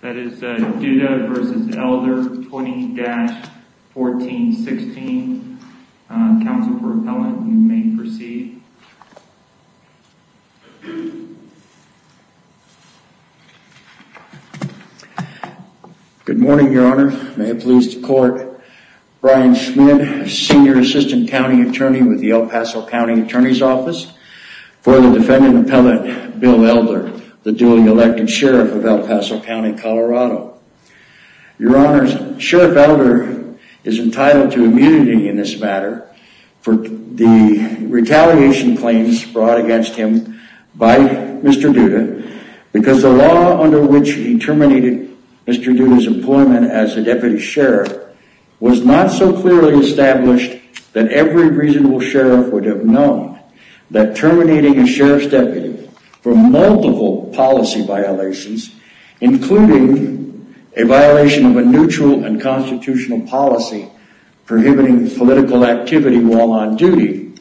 That is Duda v. Elder 20-1416, counsel for appellant, you may proceed. Good morning, your honor. May it please the court, Brian Schmidt, senior assistant county attorney with the El Paso County Attorney's Office for the defendant appellant, Bill Elder, the duly elected sheriff of El Paso County, Colorado. Your honors, Sheriff Elder is entitled to immunity in this matter for the retaliation claims brought against him by Mr. Duda because the law under which he terminated Mr. Duda's employment as the deputy sheriff was not so clearly established that every reasonable sheriff would have known that terminating a sheriff's deputy for multiple policy violations, including a violation of a neutral and constitutional policy prohibiting political activity while on duty,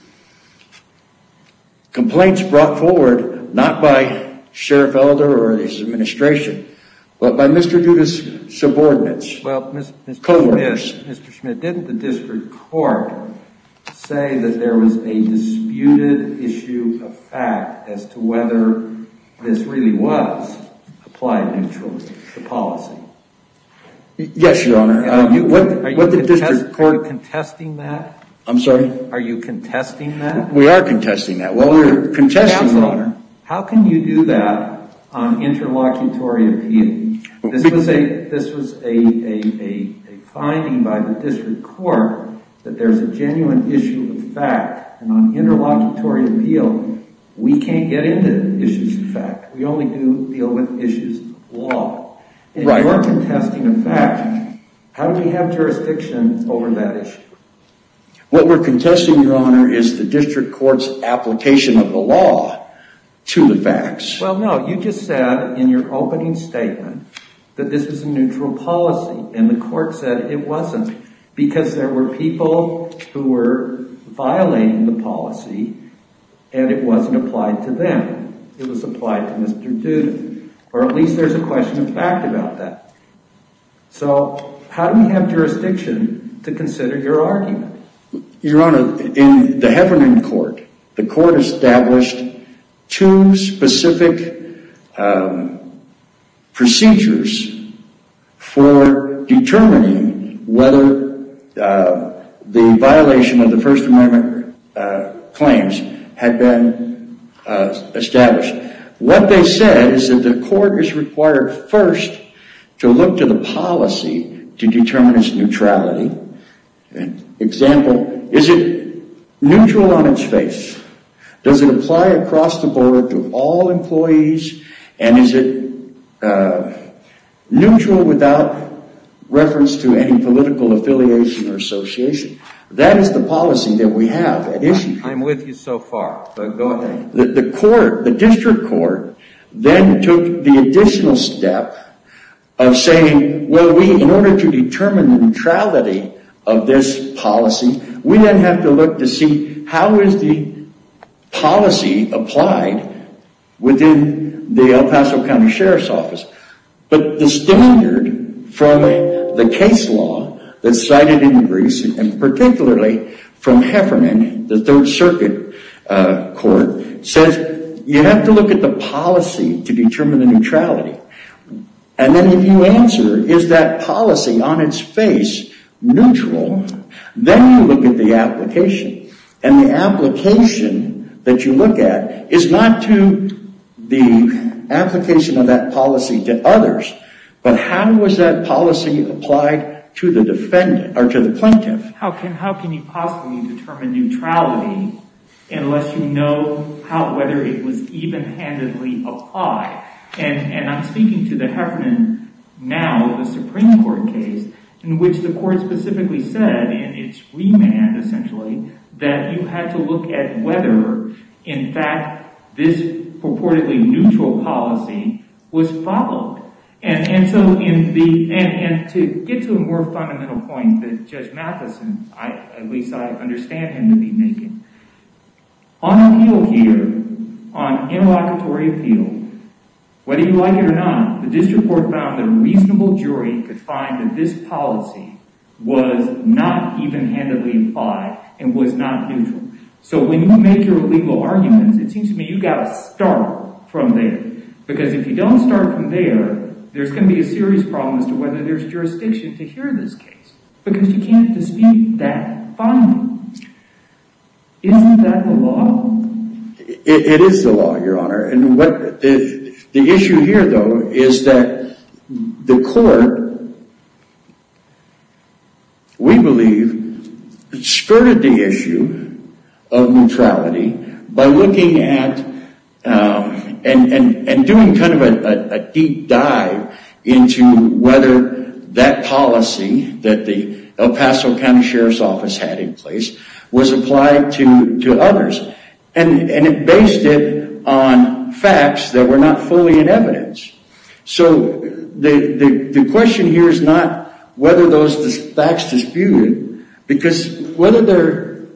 complaints brought forward not by Sheriff Elder or his administration, but by Mr. Duda's subordinates, co-workers. Mr. Schmidt, didn't the district court say that there was a disputed issue of fact as to whether this really was applied neutrally to policy? Yes, your honor. Are you contesting that? I'm sorry? Are you contesting that? We are contesting that. Well, we're contesting that. Counsel, how can you do that on interlocutory appeal? This was a finding by the district court that there's a genuine issue of fact on interlocutory appeal. We can't get into issues of fact. We only do deal with issues of law. Right. If you're contesting a fact, how do we have jurisdiction over that issue? What we're contesting, your honor, is the district court's application of the law to the facts. Well, no. You just said in your opening statement that this was a neutral policy, and the court said it wasn't because there were people who were violating the policy, and it wasn't applied to them. It was applied to Mr. Duda, or at least there's a question of fact about that. So how do we have jurisdiction to consider your argument? Your honor, in the Heffernan court, the court established two specific procedures for determining whether the violation of the First Amendment claims had been established. What they said is that the court is required first to look to the policy to determine its For example, is it neutral on its face? Does it apply across the board to all employees, and is it neutral without reference to any political affiliation or association? That is the policy that we have at issue. I'm with you so far, but go ahead. The court, the district court, then took the additional step of saying, well, in order to determine the neutrality of this policy, we then have to look to see how is the policy applied within the El Paso County Sheriff's Office. But the standard from the case law that's cited in Greece, and particularly from Heffernan, the Third Circuit Court, says you have to look at the policy to determine the neutrality. And then if you answer, is that policy on its face neutral, then you look at the application. And the application that you look at is not to the application of that policy to others, but how was that policy applied to the plaintiff? How can you possibly determine neutrality unless you know whether it was even-handedly applied? And I'm speaking to the Heffernan, now the Supreme Court case, in which the court specifically said in its remand, essentially, that you had to look at whether, in fact, this purportedly neutral policy was followed. And to get to a more fundamental point that Judge Matheson, at least I understand him to be making, on appeal here, on interlocutory appeal, whether you like it or not, the district court found that a reasonable jury could find that this policy was not even-handedly applied and was not neutral. So when you make your legal arguments, it seems to me you've got to start from there. Because if you don't start from there, there's going to be a serious problem as to whether there's jurisdiction to hear this case, because you can't dispute that finding. Isn't that the law? It is the law, Your Honor. And the issue here, though, is that the court, we believe, skirted the issue of neutrality by looking at and doing kind of a deep dive into whether that policy that the El Paso County Sheriff's Office had in place was applied to others. And it based it on facts that were not fully in evidence. So the question here is not whether those facts disputed, because whether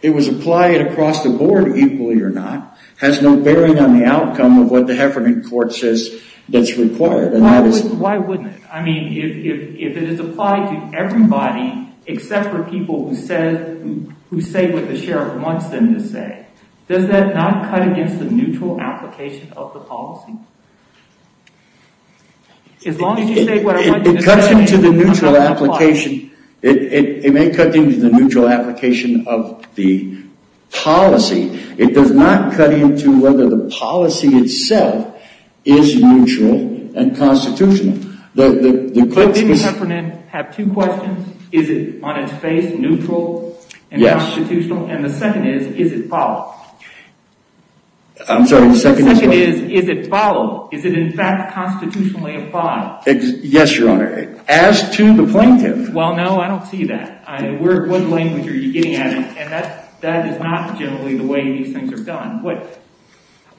it was applied across the board equally or not, has no bearing on the outcome of what the Heffernan court says that's required. Why wouldn't it? I mean, if it is applied to everybody except for people who say what the sheriff wants them to say, does that not cut against the neutral application of the policy? As long as you say what I want you to say, it's not going to apply. It may cut into the neutral application of the policy. It does not cut into whether the policy itself is neutral and constitutional. The court in Heffernan have two questions. Is it, on its face, neutral and constitutional? And the second is, is it followed? I'm sorry, the second is what? The second is, is it followed? Is it, in fact, constitutionally applied? Yes, Your Honor. As to the plaintiff? Well, no, I don't see that. What language are you getting at? And that is not generally the way these things are done.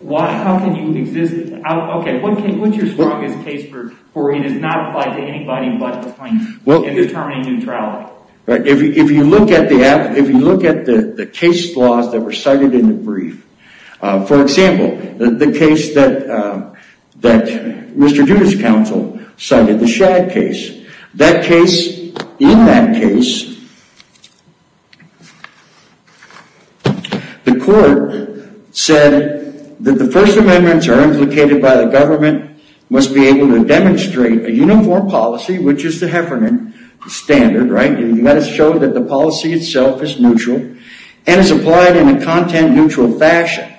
How can you exist? Okay, what's your strongest case where it is not applied to anybody but the plaintiff in determining neutrality? If you look at the case laws that were cited in the brief, for example, the case that Mr. Judith's counsel cited, the Shad case, that case, in that case, the court said that the First Amendments are implicated by the government, must be able to demonstrate a uniform policy, which is the Heffernan standard, right, and you've got to show that the policy itself is neutral and is applied in a content-neutral fashion.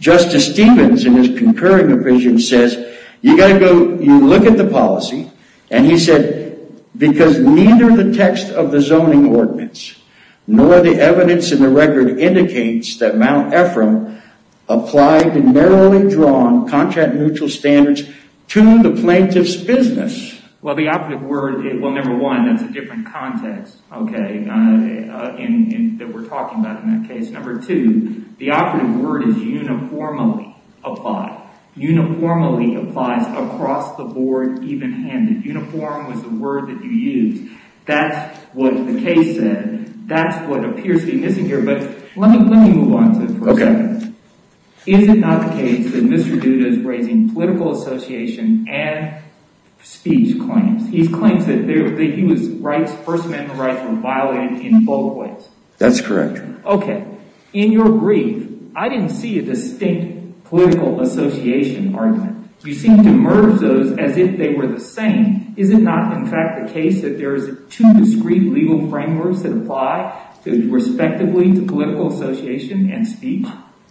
Justice Stevens, in his concurring opinion, says, you've got to go, you look at the policy, and he said, because neither the text of the zoning ordinance nor the evidence in the record indicates that Mount Ephraim applied the narrowly drawn, content-neutral standards to the plaintiff's business. Well, the operative word, well, number one, that's a different context, okay, that we're talking about in that case. Number two, the operative word is uniformly applied, uniformly applies across the board, even-handed. Uniform was the word that you used. That's what the case said, that's what appears to be missing here, but let me move on to it for a second. Okay. Is it not the case that Mr. Judith is raising political association and speech claims? He claims that the U.S. rights, First Amendment rights, were violated in both ways. That's correct. Okay. In your brief, I didn't see a distinct political association argument. You seem to merge those as if they were the same. Is it not, in fact, the case that there is two discrete legal frameworks that apply, respectively, to political association and speech?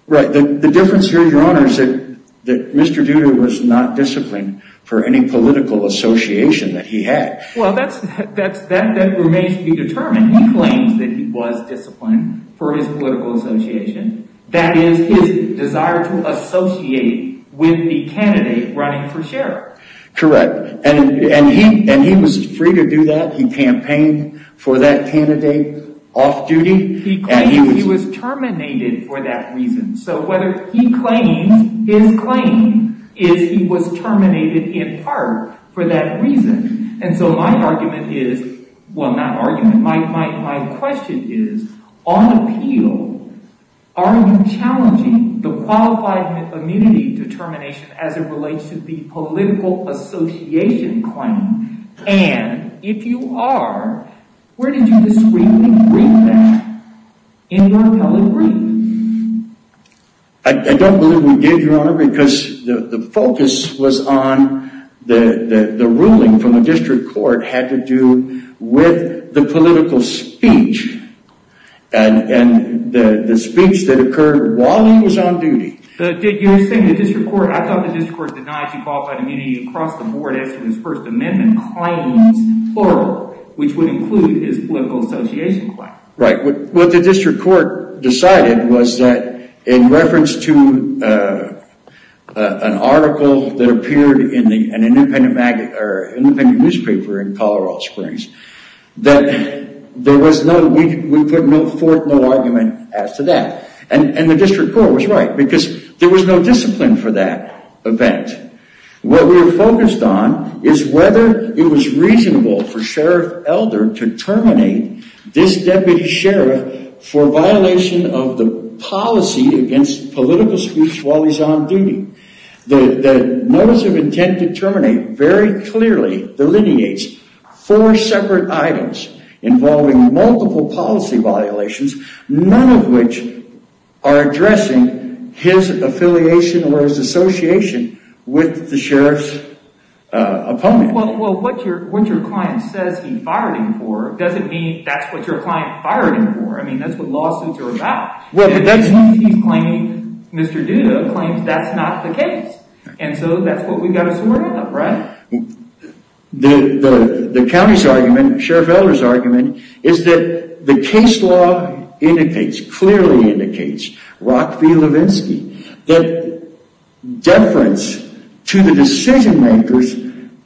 Right. The difference here, Your Honor, is that Mr. Judah was not disciplined for any political association that he had. Well, that remains to be determined. He claims that he was disciplined for his political association. That is, his desire to associate with the candidate running for sheriff. Correct. And he was free to do that. He campaigned for that candidate off-duty. He claims he was terminated for that reason. So, whether he claims, his claim is he was terminated in part for that reason. And so my argument is, well, not argument, my question is, on appeal, are you challenging the qualified immunity determination as it relates to the political association claim? And, if you are, where did you discreetly bring that in your appellate brief? I don't believe we did, Your Honor, because the focus was on the ruling from the district court had to do with the political speech and the speech that occurred while he was on duty. You're saying the district court, I thought the district court denied you qualified immunity across the board as to his First Amendment claims, plural, which would include his political association claim. Right. What the district court decided was that in reference to an article that appeared in an independent newspaper in Colorado Springs, that there was no, we put forth no argument as to that. And the district court was right, because there was no discipline for that event. What we were focused on is whether it was reasonable for Sheriff Elder to terminate this deputy sheriff for violation of the policy against political speech while he's on duty. The notice of intent to terminate very clearly delineates four separate items involving multiple policy violations, none of which are addressing his affiliation or his association with the sheriff's opponent. Well, what your client says he fired him for doesn't mean that's what your client fired him for. I mean, that's what lawsuits are about. He's claiming, Mr. Duda claims that's not the case. And so that's what we've got to sort out, right? The county's argument, Sheriff Elder's argument, is that the case law indicates, clearly indicates, Rock v. Levinsky, that deference to the decision-maker's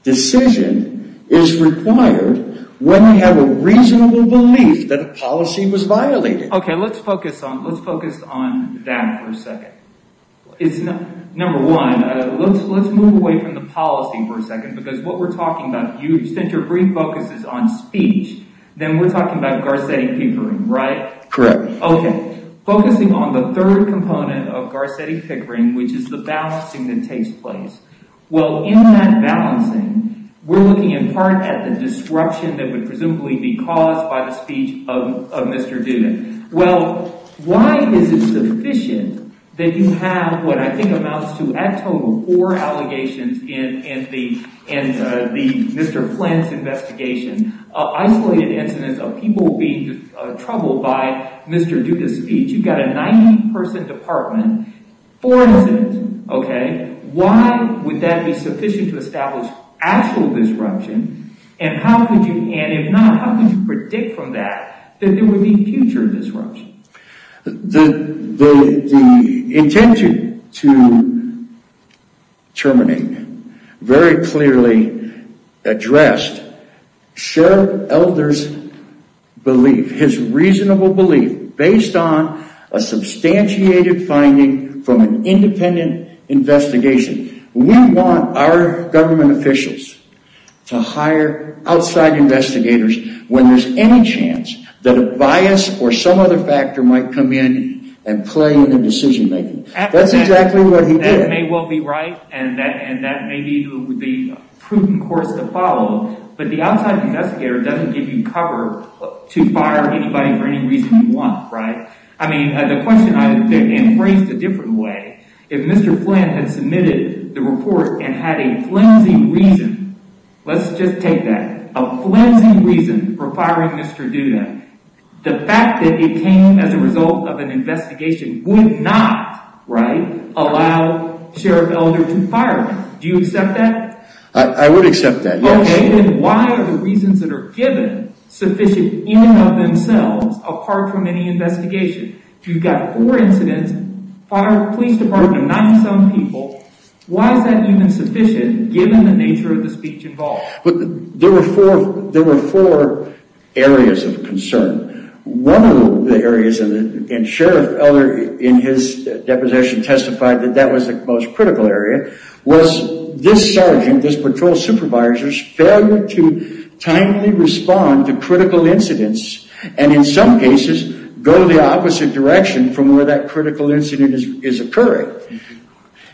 decision is required when we have a reasonable belief that a policy was violated. Okay, let's focus on, let's focus on that for a second. Number one, let's move away from the policy for a second, because what we're talking about, since your brief focus is on speech, then we're talking about Garcetti peepering, right? Correct. Okay, focusing on the third component of Garcetti peepering, which is the balancing that takes place. Well, in that balancing, we're looking in part at the disruption that would presumably be caused by the speech of Mr. Duda. Well, why is it sufficient that you have what I think amounts to a total of four allegations in the Mr. Flynn's investigation, isolated incidents of people being troubled by Mr. Duda's speech? You've got a 90-person department, four incidents, okay? Why would that be sufficient to establish actual disruption, and how could you, and if not, how could you predict from that that there would be future disruption? The intention to terminate very clearly addressed Sheriff Elder's belief, his reasonable belief, based on a substantiated finding from an independent investigation. We want our government officials to hire outside investigators when there's any chance that bias or some other factor might come in and play in the decision-making. That's exactly what he did. That may well be right, and that may be the prudent course to follow, but the outside investigator doesn't give you cover to fire anybody for any reason you want, right? I mean, the question, and phrased a different way, if Mr. Flynn had submitted the report and had a flimsy reason, let's just take that, a flimsy reason for firing Mr. Duda, the fact that it came as a result of an investigation would not, right, allow Sheriff Elder to fire him. Do you accept that? I would accept that, yes. Okay, then why are the reasons that are given sufficient in and of themselves apart from any investigation? You've got four incidents, police department, 97 people, why is that even sufficient given the nature of the speech involved? There were four areas of concern. One of the areas, and Sheriff Elder in his deposition testified that that was the most critical area, was this sergeant, this patrol supervisor's failure to timely respond to the opposite direction from where that critical incident is occurring.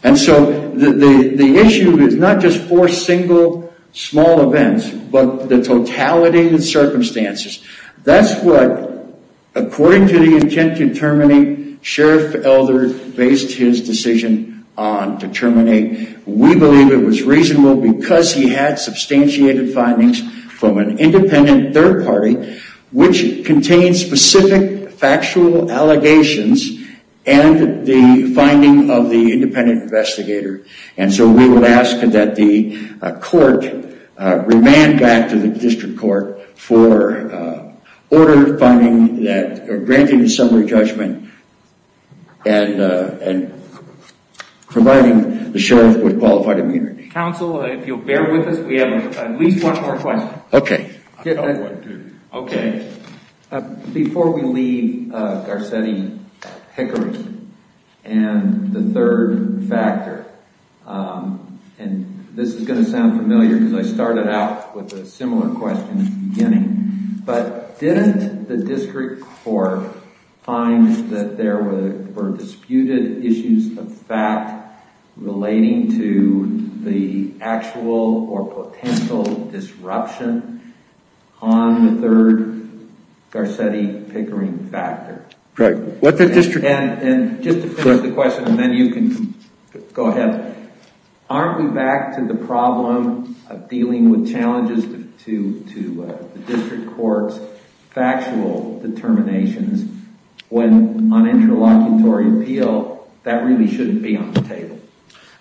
And so the issue is not just four single small events, but the totality of the circumstances. That's what, according to the intent to terminate, Sheriff Elder based his decision on to terminate. We believe it was reasonable because he had substantiated findings from an independent third party which contained specific factual allegations and the finding of the independent investigator. And so we would ask that the court remand that to the district court for order finding that, granting a summary judgment and providing the Sheriff with qualified immunity. Counsel, if you'll bear with us, we have at least one more question. Okay. Before we leave Garcetti-Hickory and the third factor, and this is going to sound familiar because I started out with a similar question at the beginning, but didn't the district court find that there were disputed issues of fact relating to the actual or potential disruption on the third Garcetti-Hickory factor? And just to finish the question and then you can go ahead. But aren't we back to the problem of dealing with challenges to the district court's factual determinations when on interlocutory appeal that really shouldn't be on the table?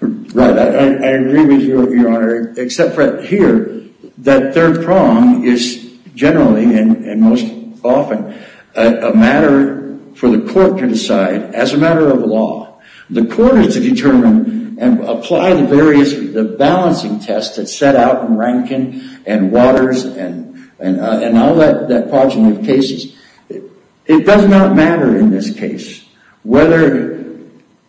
Right. I agree with you, Your Honor, except for here that third prong is generally and most often a matter for the court to decide as a matter of law. The court is to determine and apply the various, the balancing test that's set out in Rankin and Waters and all that podge of cases. It does not matter in this case whether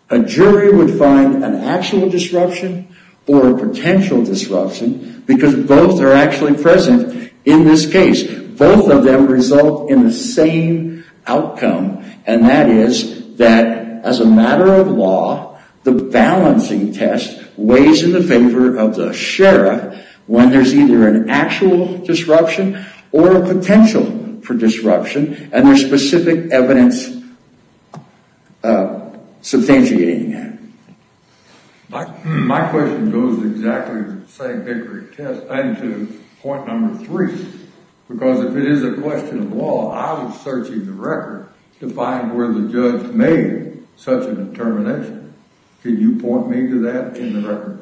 a jury would find an actual disruption or a potential disruption because both are actually present in this case. Both of them result in the same outcome and that is that as a matter of law, the balancing test weighs in the favor of the sheriff when there's either an actual disruption or a potential disruption and there's specific evidence substantiating that. My question goes exactly to the St. Vickery test and to point number three because if it is a question of law, I was searching the record to find where the judge made such a determination. Can you point me to that in the record?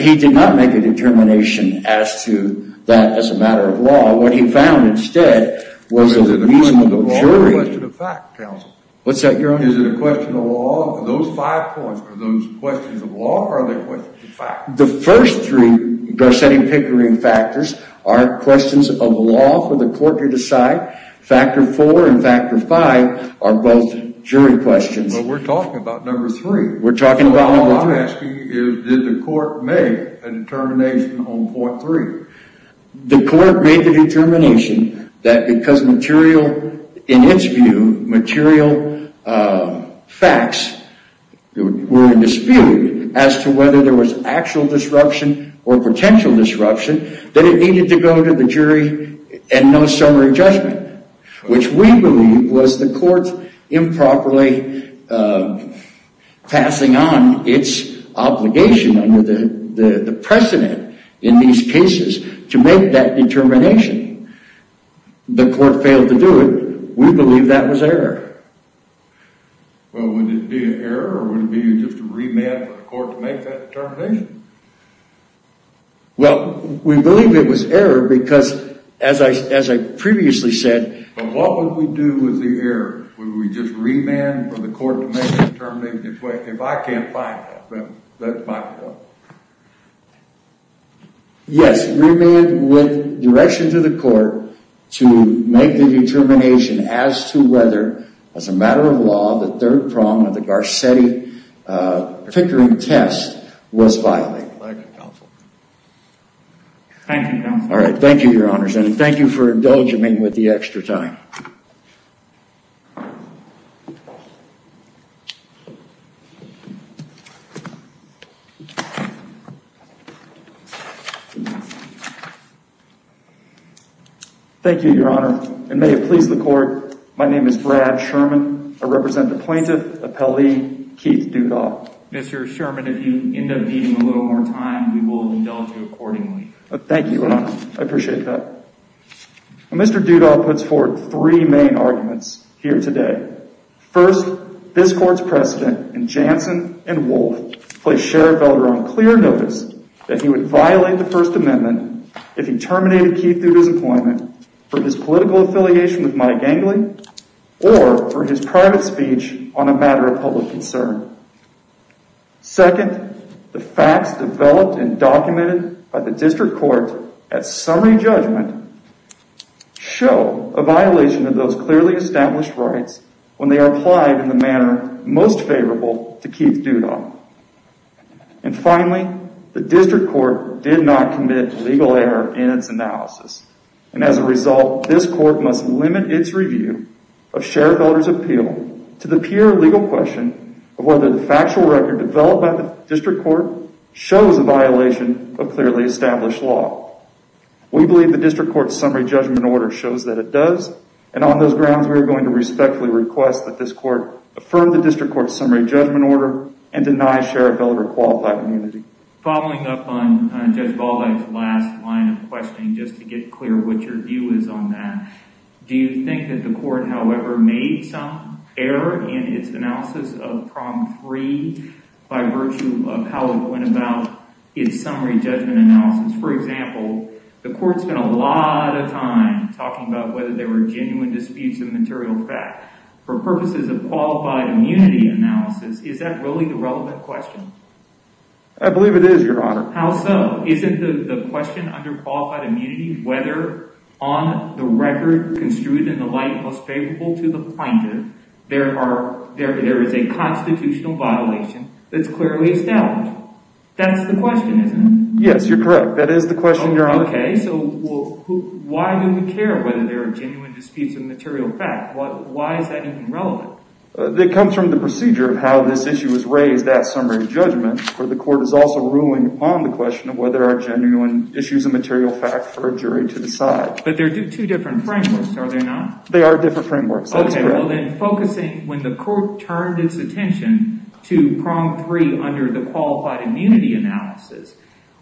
He did not make a determination as to that as a matter of law. What he found instead was a reasonable jury. Is it a question of law or a question of fact, counsel? What's that, Your Honor? Is it a question of law? Are those five points, are those questions of law or are they questions of fact? The first three Garcetti-Vickery factors are questions of law for the court to decide. Factor four and factor five are both jury questions. But we're talking about number three. We're talking about number three. All I'm asking is did the court make a determination on point three? The court made the determination that because material, in its view, material facts were in dispute as to whether there was actual disruption or potential disruption, that it needed to go to the jury and no summary judgment, which we believe was the court's improperly passing on its obligation under the precedent in these cases to make that determination. The court failed to do it. We believe that was error. Well, would it be an error or would it be just a remand for the court to make that determination? Well, we believe it was error because, as I previously said... But what would we do with the error? Would we just remand for the court to make that determination? If I can't find that, then that's my fault. Yes, remand with direction to the court to make the determination as to whether, as a matter of law, the third prong of the Garcetti-Vickery test was violated. Thank you, counsel. Thank you, counsel. All right, thank you, Your Honors. And thank you for indulging me with the extra time. Thank you. Thank you, Your Honor. And may it please the court, my name is Brad Sherman. I represent the plaintiff, appellee Keith Dudaw. Mr. Sherman, if you end up needing a little more time, we will indulge you accordingly. Thank you, Your Honor. I appreciate that. Mr. Dudaw puts forward three main arguments here today. First, this court's precedent in Jansen and Wolfe placed Sheriff Veller on clear notice that he would violate the First Amendment if he terminated Keith through his employment for his political affiliation with Mike Angley or for his private speech on a matter of public concern. Second, the facts developed and documented by the district court at summary judgment show a violation of those clearly established rights when they are applied in the manner most favorable to Keith Dudaw. And finally, the district court did not commit legal error in its analysis. And as a result, this court must limit its review of Sheriff Veller's appeal to the clear legal question of whether the factual record developed by the district court shows a violation of clearly established law. We believe the district court's summary judgment order shows that it does, and on those grounds we are going to respectfully request that this court affirm the district court's summary judgment order and deny Sheriff Veller qualified immunity. Following up on Judge Baldi's last line of questioning, just to get clear what your view is on that, do you think that the court, however, made some error in its analysis of Prom 3 by virtue of how it went about its summary judgment analysis? For example, the court spent a lot of time talking about whether there were genuine disputes of material fact. For purposes of qualified immunity analysis, is that really the relevant question? I believe it is, Your Honor. How so? Isn't the question under qualified immunity whether, on the record construed in the light most favorable to the plaintiff, there is a constitutional violation that's clearly established? That's the question, isn't it? Yes, you're correct. That is the question, Your Honor. Okay, so why do we care whether there are genuine disputes of material fact? Why is that even relevant? It comes from the procedure of how this issue was raised at summary judgment. The court is also ruling on the question of whether there are genuine issues of material fact for a jury to decide. But they're two different frameworks, are they not? They are different frameworks. Okay, well then focusing, when the court turned its attention to Prom 3 under the qualified immunity analysis,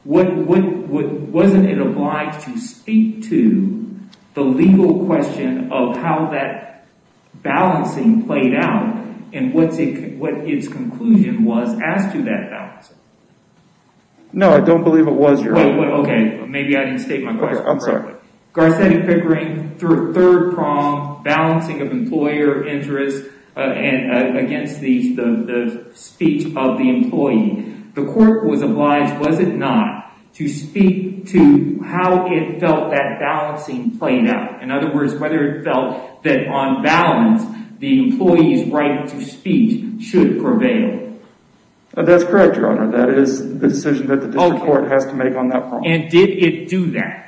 wasn't it obliged to speak to the legal question of how that balancing played out and what its conclusion was as to that balancing? No, I don't believe it was, Your Honor. Okay, maybe I didn't state my question correctly. Okay, I'm sorry. Garcetti Pickering threw a third prom, balancing of employer interest against the speech of the employee. The court was obliged, was it not, to speak to how it felt that balancing played out? In other words, whether it felt that on balance, the employee's right to speak should prevail. That's correct, Your Honor. That is the decision that the district court has to make on that prom. And did it do that?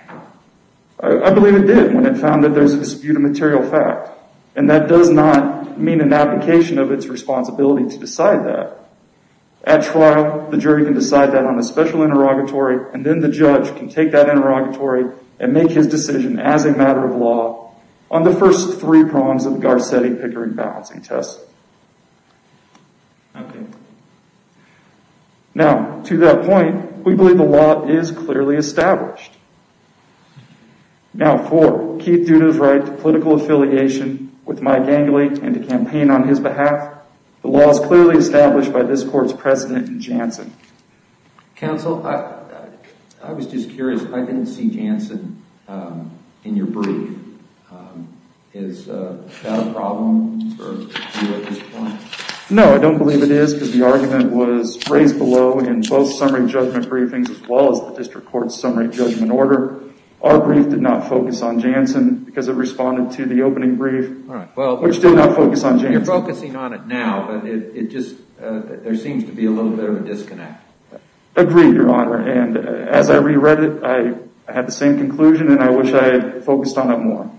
I believe it did when it found that there's a dispute of material fact. And that does not mean an application of its responsibility to decide that. At trial, the jury can decide that on a special interrogatory. And then the judge can take that interrogatory and make his decision as a matter of law on the first three proms of the Garcetti Pickering balancing test. Okay. Now, to that point, we believe the law is clearly established. Now, for Keith Duda's right to political affiliation with Mike Angley and to campaign on his behalf, the law is clearly established by this court's president in Janssen. Counsel, I was just curious. I didn't see Janssen in your brief. Is that a problem for you at this point? No, I don't believe it is because the argument was raised below in both summary judgment briefings as well as the district court's summary judgment order. Our brief did not focus on Janssen because it responded to the opening brief, which did not focus on Janssen. You're focusing on it now, but there seems to be a little bit of a disconnect. Agreed, Your Honor. And as I re-read it, I had the same conclusion and I wish I had focused on it more.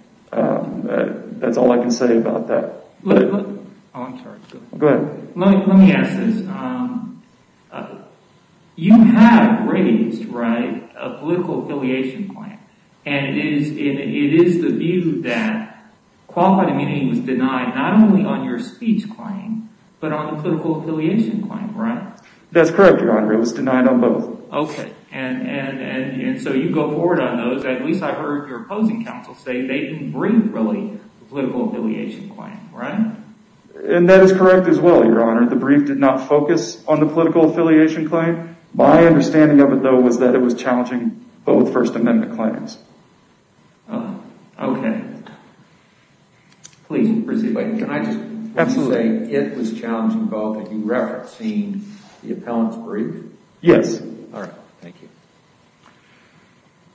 That's all I can say about that. Go ahead. Let me ask this. You have raised a political affiliation plan. And it is the view that qualified immunity was denied not only on your speech claim, but on the political affiliation claim, right? That's correct, Your Honor. It was denied on both. Okay. And so you go forward on those. At least I heard your opposing counsel say they didn't brief really the political affiliation claim, right? And that is correct as well, Your Honor. The brief did not focus on the political affiliation claim. My understanding of it, though, was that it was challenging both First Amendment claims. Okay. Please proceed. Can I just say it was challenging both, and you referenced seeing the appellant's brief? Yes. All right. Thank you.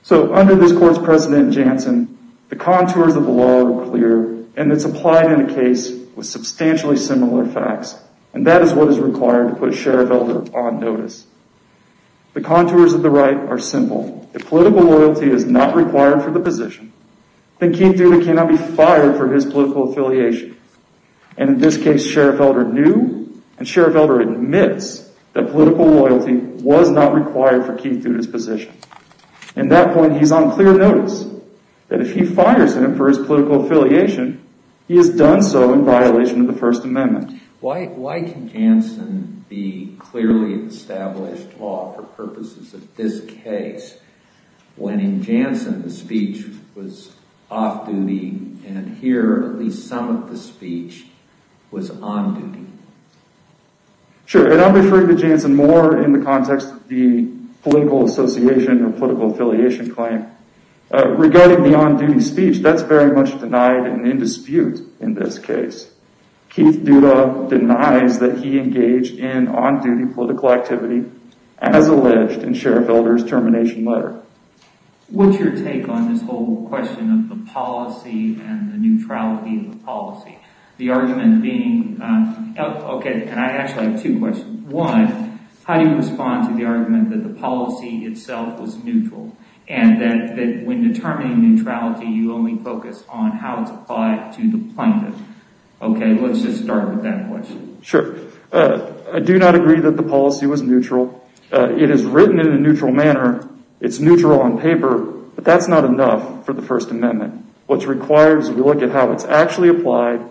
So under this court's precedent in Janssen, the contours of the law are clear, and it's applied in a case with substantially similar facts. And that is what is required to put Sheriff Elder on notice. The contours of the right are simple. If political loyalty is not required for the position, then Keith Duda cannot be fired for his political affiliation. And in this case, Sheriff Elder knew, and Sheriff Elder admits, that political loyalty was not required for Keith Duda's position. At that point, he's on clear notice that if he fires him for his political affiliation, he has done so in violation of the First Amendment. Why can Janssen be clearly established law for purposes of this case, when in Janssen the speech was off-duty, and here at least some of the speech was on-duty? Sure. And I'm referring to Janssen more in the context of the political association or political affiliation claim. Regarding the on-duty speech, that's very much denied and in dispute in this case. Keith Duda denies that he engaged in on-duty political activity as alleged in Sheriff Elder's termination letter. What's your take on this whole question of the policy and the neutrality of the policy? The argument being, okay, and I actually have two questions. One, how do you respond to the argument that the policy itself was neutral, and that when determining neutrality, you only focus on how it's applied to the plaintiff? Okay, let's just start with that question. Sure. I do not agree that the policy was neutral. It is written in a neutral manner. It's neutral on paper. But that's not enough for the First Amendment. What's required is we look at how it's actually applied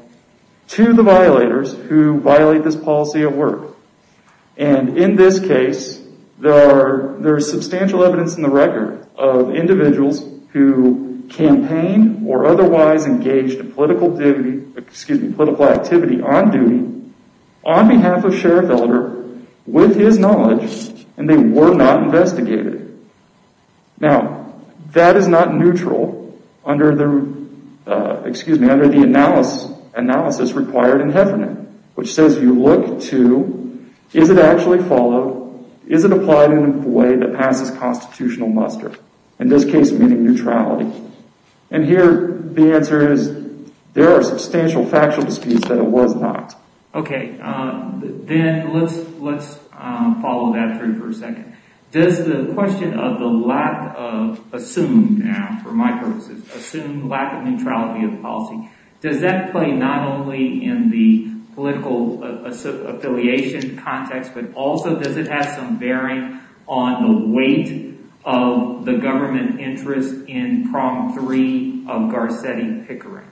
to the violators who violate this policy at work. And in this case, there is substantial evidence in the record of individuals who campaigned or otherwise engaged in political activity on duty on behalf of Sheriff Elder with his knowledge, and they were not investigated. Now, that is not neutral under the analysis required in Heffernan, which says you look to, is it actually followed? Is it applied in a way that passes constitutional muster? In this case, meaning neutrality. And here, the answer is, there are substantial factual disputes that it was not. Okay, then let's follow that through for a second. Does the question of the lack of, assumed now, for my purposes, assumed lack of neutrality of the policy, does that play not only in the political affiliation context, but also does it have some bearing on the weight of the government interest in Prong 3 of Garcetti-Pickering?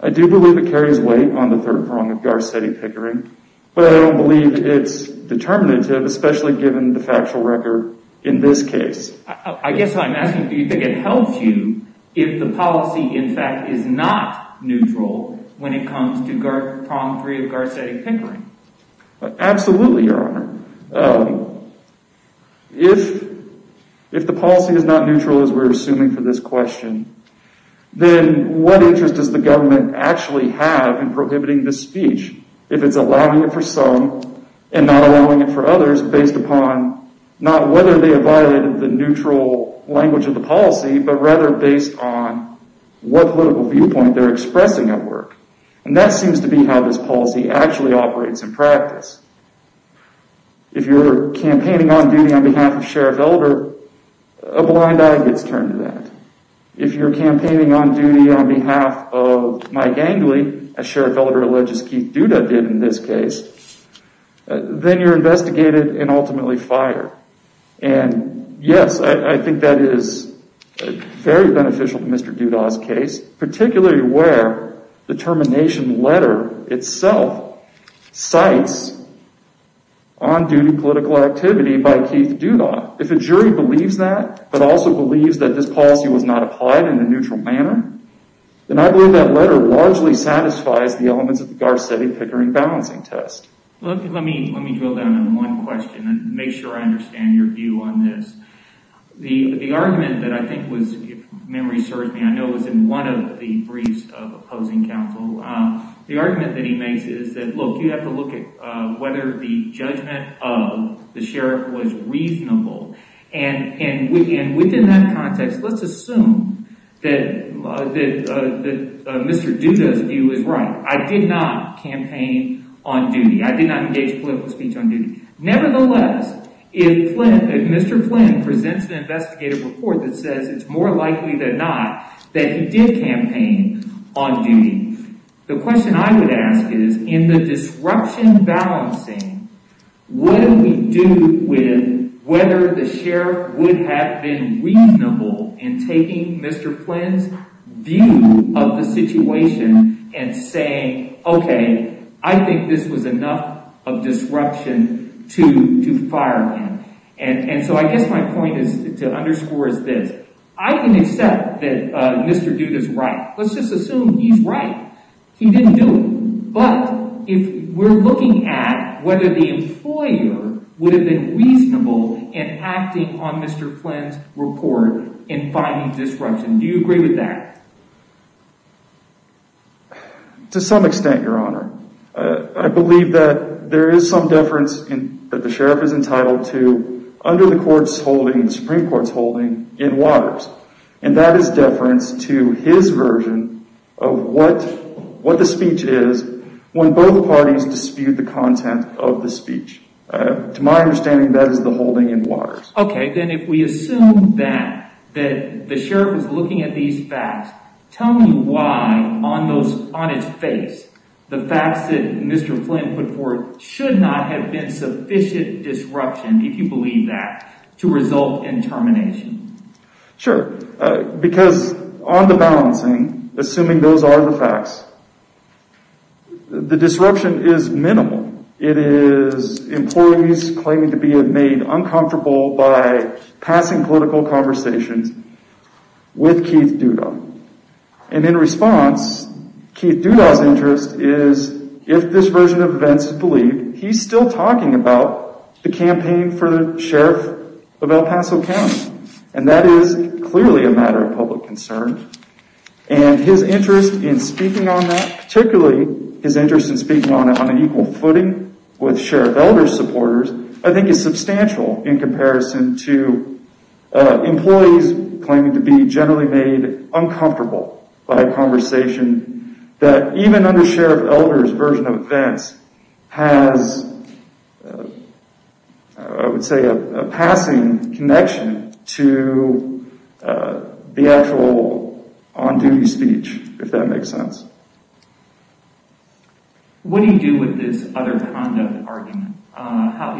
I do believe it carries weight on the third prong of Garcetti-Pickering, but I don't believe it's determinative, especially given the factual record in this case. I guess I'm asking, do you think it helps you if the policy, in fact, is not neutral when it comes to Prong 3 of Garcetti-Pickering? Absolutely, Your Honor. If the policy is not neutral, as we're assuming for this question, then what interest does the government actually have in prohibiting this speech, if it's allowing it for some and not allowing it for others based upon not whether they have violated the neutral language of the policy, but rather based on what political viewpoint they're expressing at work? That seems to be how this policy actually operates in practice. If you're campaigning on duty on behalf of Sheriff Elder, a blind eye gets turned to that. If you're campaigning on duty on behalf of Mike Angley, as Sheriff Elder alleges Keith Duda did in this case, then you're investigated and ultimately fired. Yes, I think that is very beneficial to Mr. Duda's case, particularly where the termination letter itself cites on-duty political activity by Keith Duda. If a jury believes that, but also believes that this policy was not applied in a neutral manner, then I believe that letter largely satisfies the elements of the Garcetti Pickering Balancing Test. Let me drill down on one question and make sure I understand your view on this. The argument that I think was, if memory serves me, I know it was in one of the briefs of opposing counsel, the argument that he makes is that, look, you have to look at whether the judgment of the Sheriff was reasonable. Within that context, let's assume that Mr. Duda's view is right. I did not campaign on duty. I did not engage in political speech on duty. Nevertheless, if Mr. Flynn presents an investigative report that says it's more likely than not that he did campaign on duty, the question I would ask is, in the disruption balancing, what do we do with whether the Sheriff would have been reasonable in taking Mr. Flynn's view of the situation and saying, okay, I think this was enough of disruption to fire him? And so I guess my point to underscore is this. I can accept that Mr. Duda's right. Let's just assume he's right. He didn't do it. But if we're looking at whether the employer would have been reasonable in acting on Mr. Flynn's report in finding disruption, do you agree with that? To some extent, Your Honor. I believe that there is some deference that the Sheriff is entitled to under the Supreme Court's holding in Waters. And that is deference to his version of what the speech is when both parties dispute the content of the speech. To my understanding, that is the holding in Waters. Okay, then if we assume that the Sheriff is looking at these facts, tell me why, on his face, the facts that Mr. Flynn put forth should not have been sufficient disruption, if you believe that, to result in termination. Sure. Because on the balancing, assuming those are the facts, the disruption is minimal. It is employees claiming to be made uncomfortable by passing political conversations with Keith Duda. And in response, Keith Duda's interest is, if this version of events is believed, he's still talking about the campaign for the Sheriff of El Paso County. And that is clearly a matter of public concern. And his interest in speaking on that, particularly his interest in speaking on an equal footing with Sheriff Elder supporters, I think is substantial in comparison to employees claiming to be generally made uncomfortable by a conversation that even under Sheriff Elder's version of events has, I would say, a passing connection to the actual on-duty speech, if that makes sense. What do you do with this other conduct argument?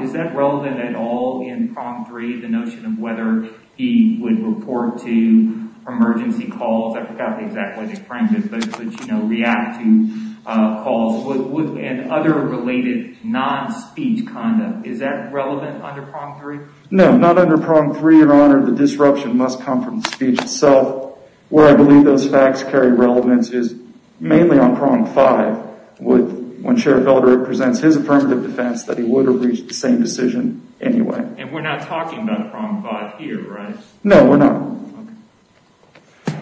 Is that relevant at all in Prom 3, the notion of whether he would report to emergency calls? I forgot the exact way to frame this, but would react to calls? And other related non-speech conduct, is that relevant under Prom 3? No, not under Prom 3, Your Honor. The disruption must come from the speech itself. Where I believe those facts carry relevance is mainly on Prom 5. When Sheriff Elder presents his affirmative defense that he would have reached the same decision anyway. And we're not talking about Prom 5 here, right? No, we're not.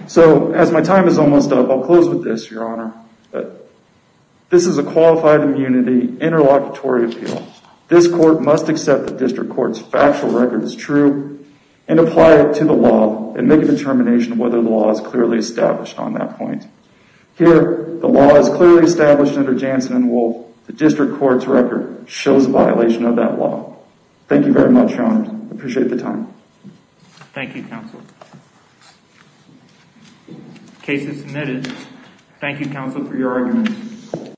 So, as my time is almost up, I'll close with this, Your Honor. This is a qualified immunity interlocutory appeal. This court must accept that District Court's factual record is true and apply it to the law and make a determination whether the law is clearly established on that point. Here, the law is clearly established under Jansen and Wolfe. The District Court's record shows a violation of that law. Thank you very much, Your Honor. I appreciate the time. Thank you, Counselor. Case is submitted. Thank you, Counselor, for your argument.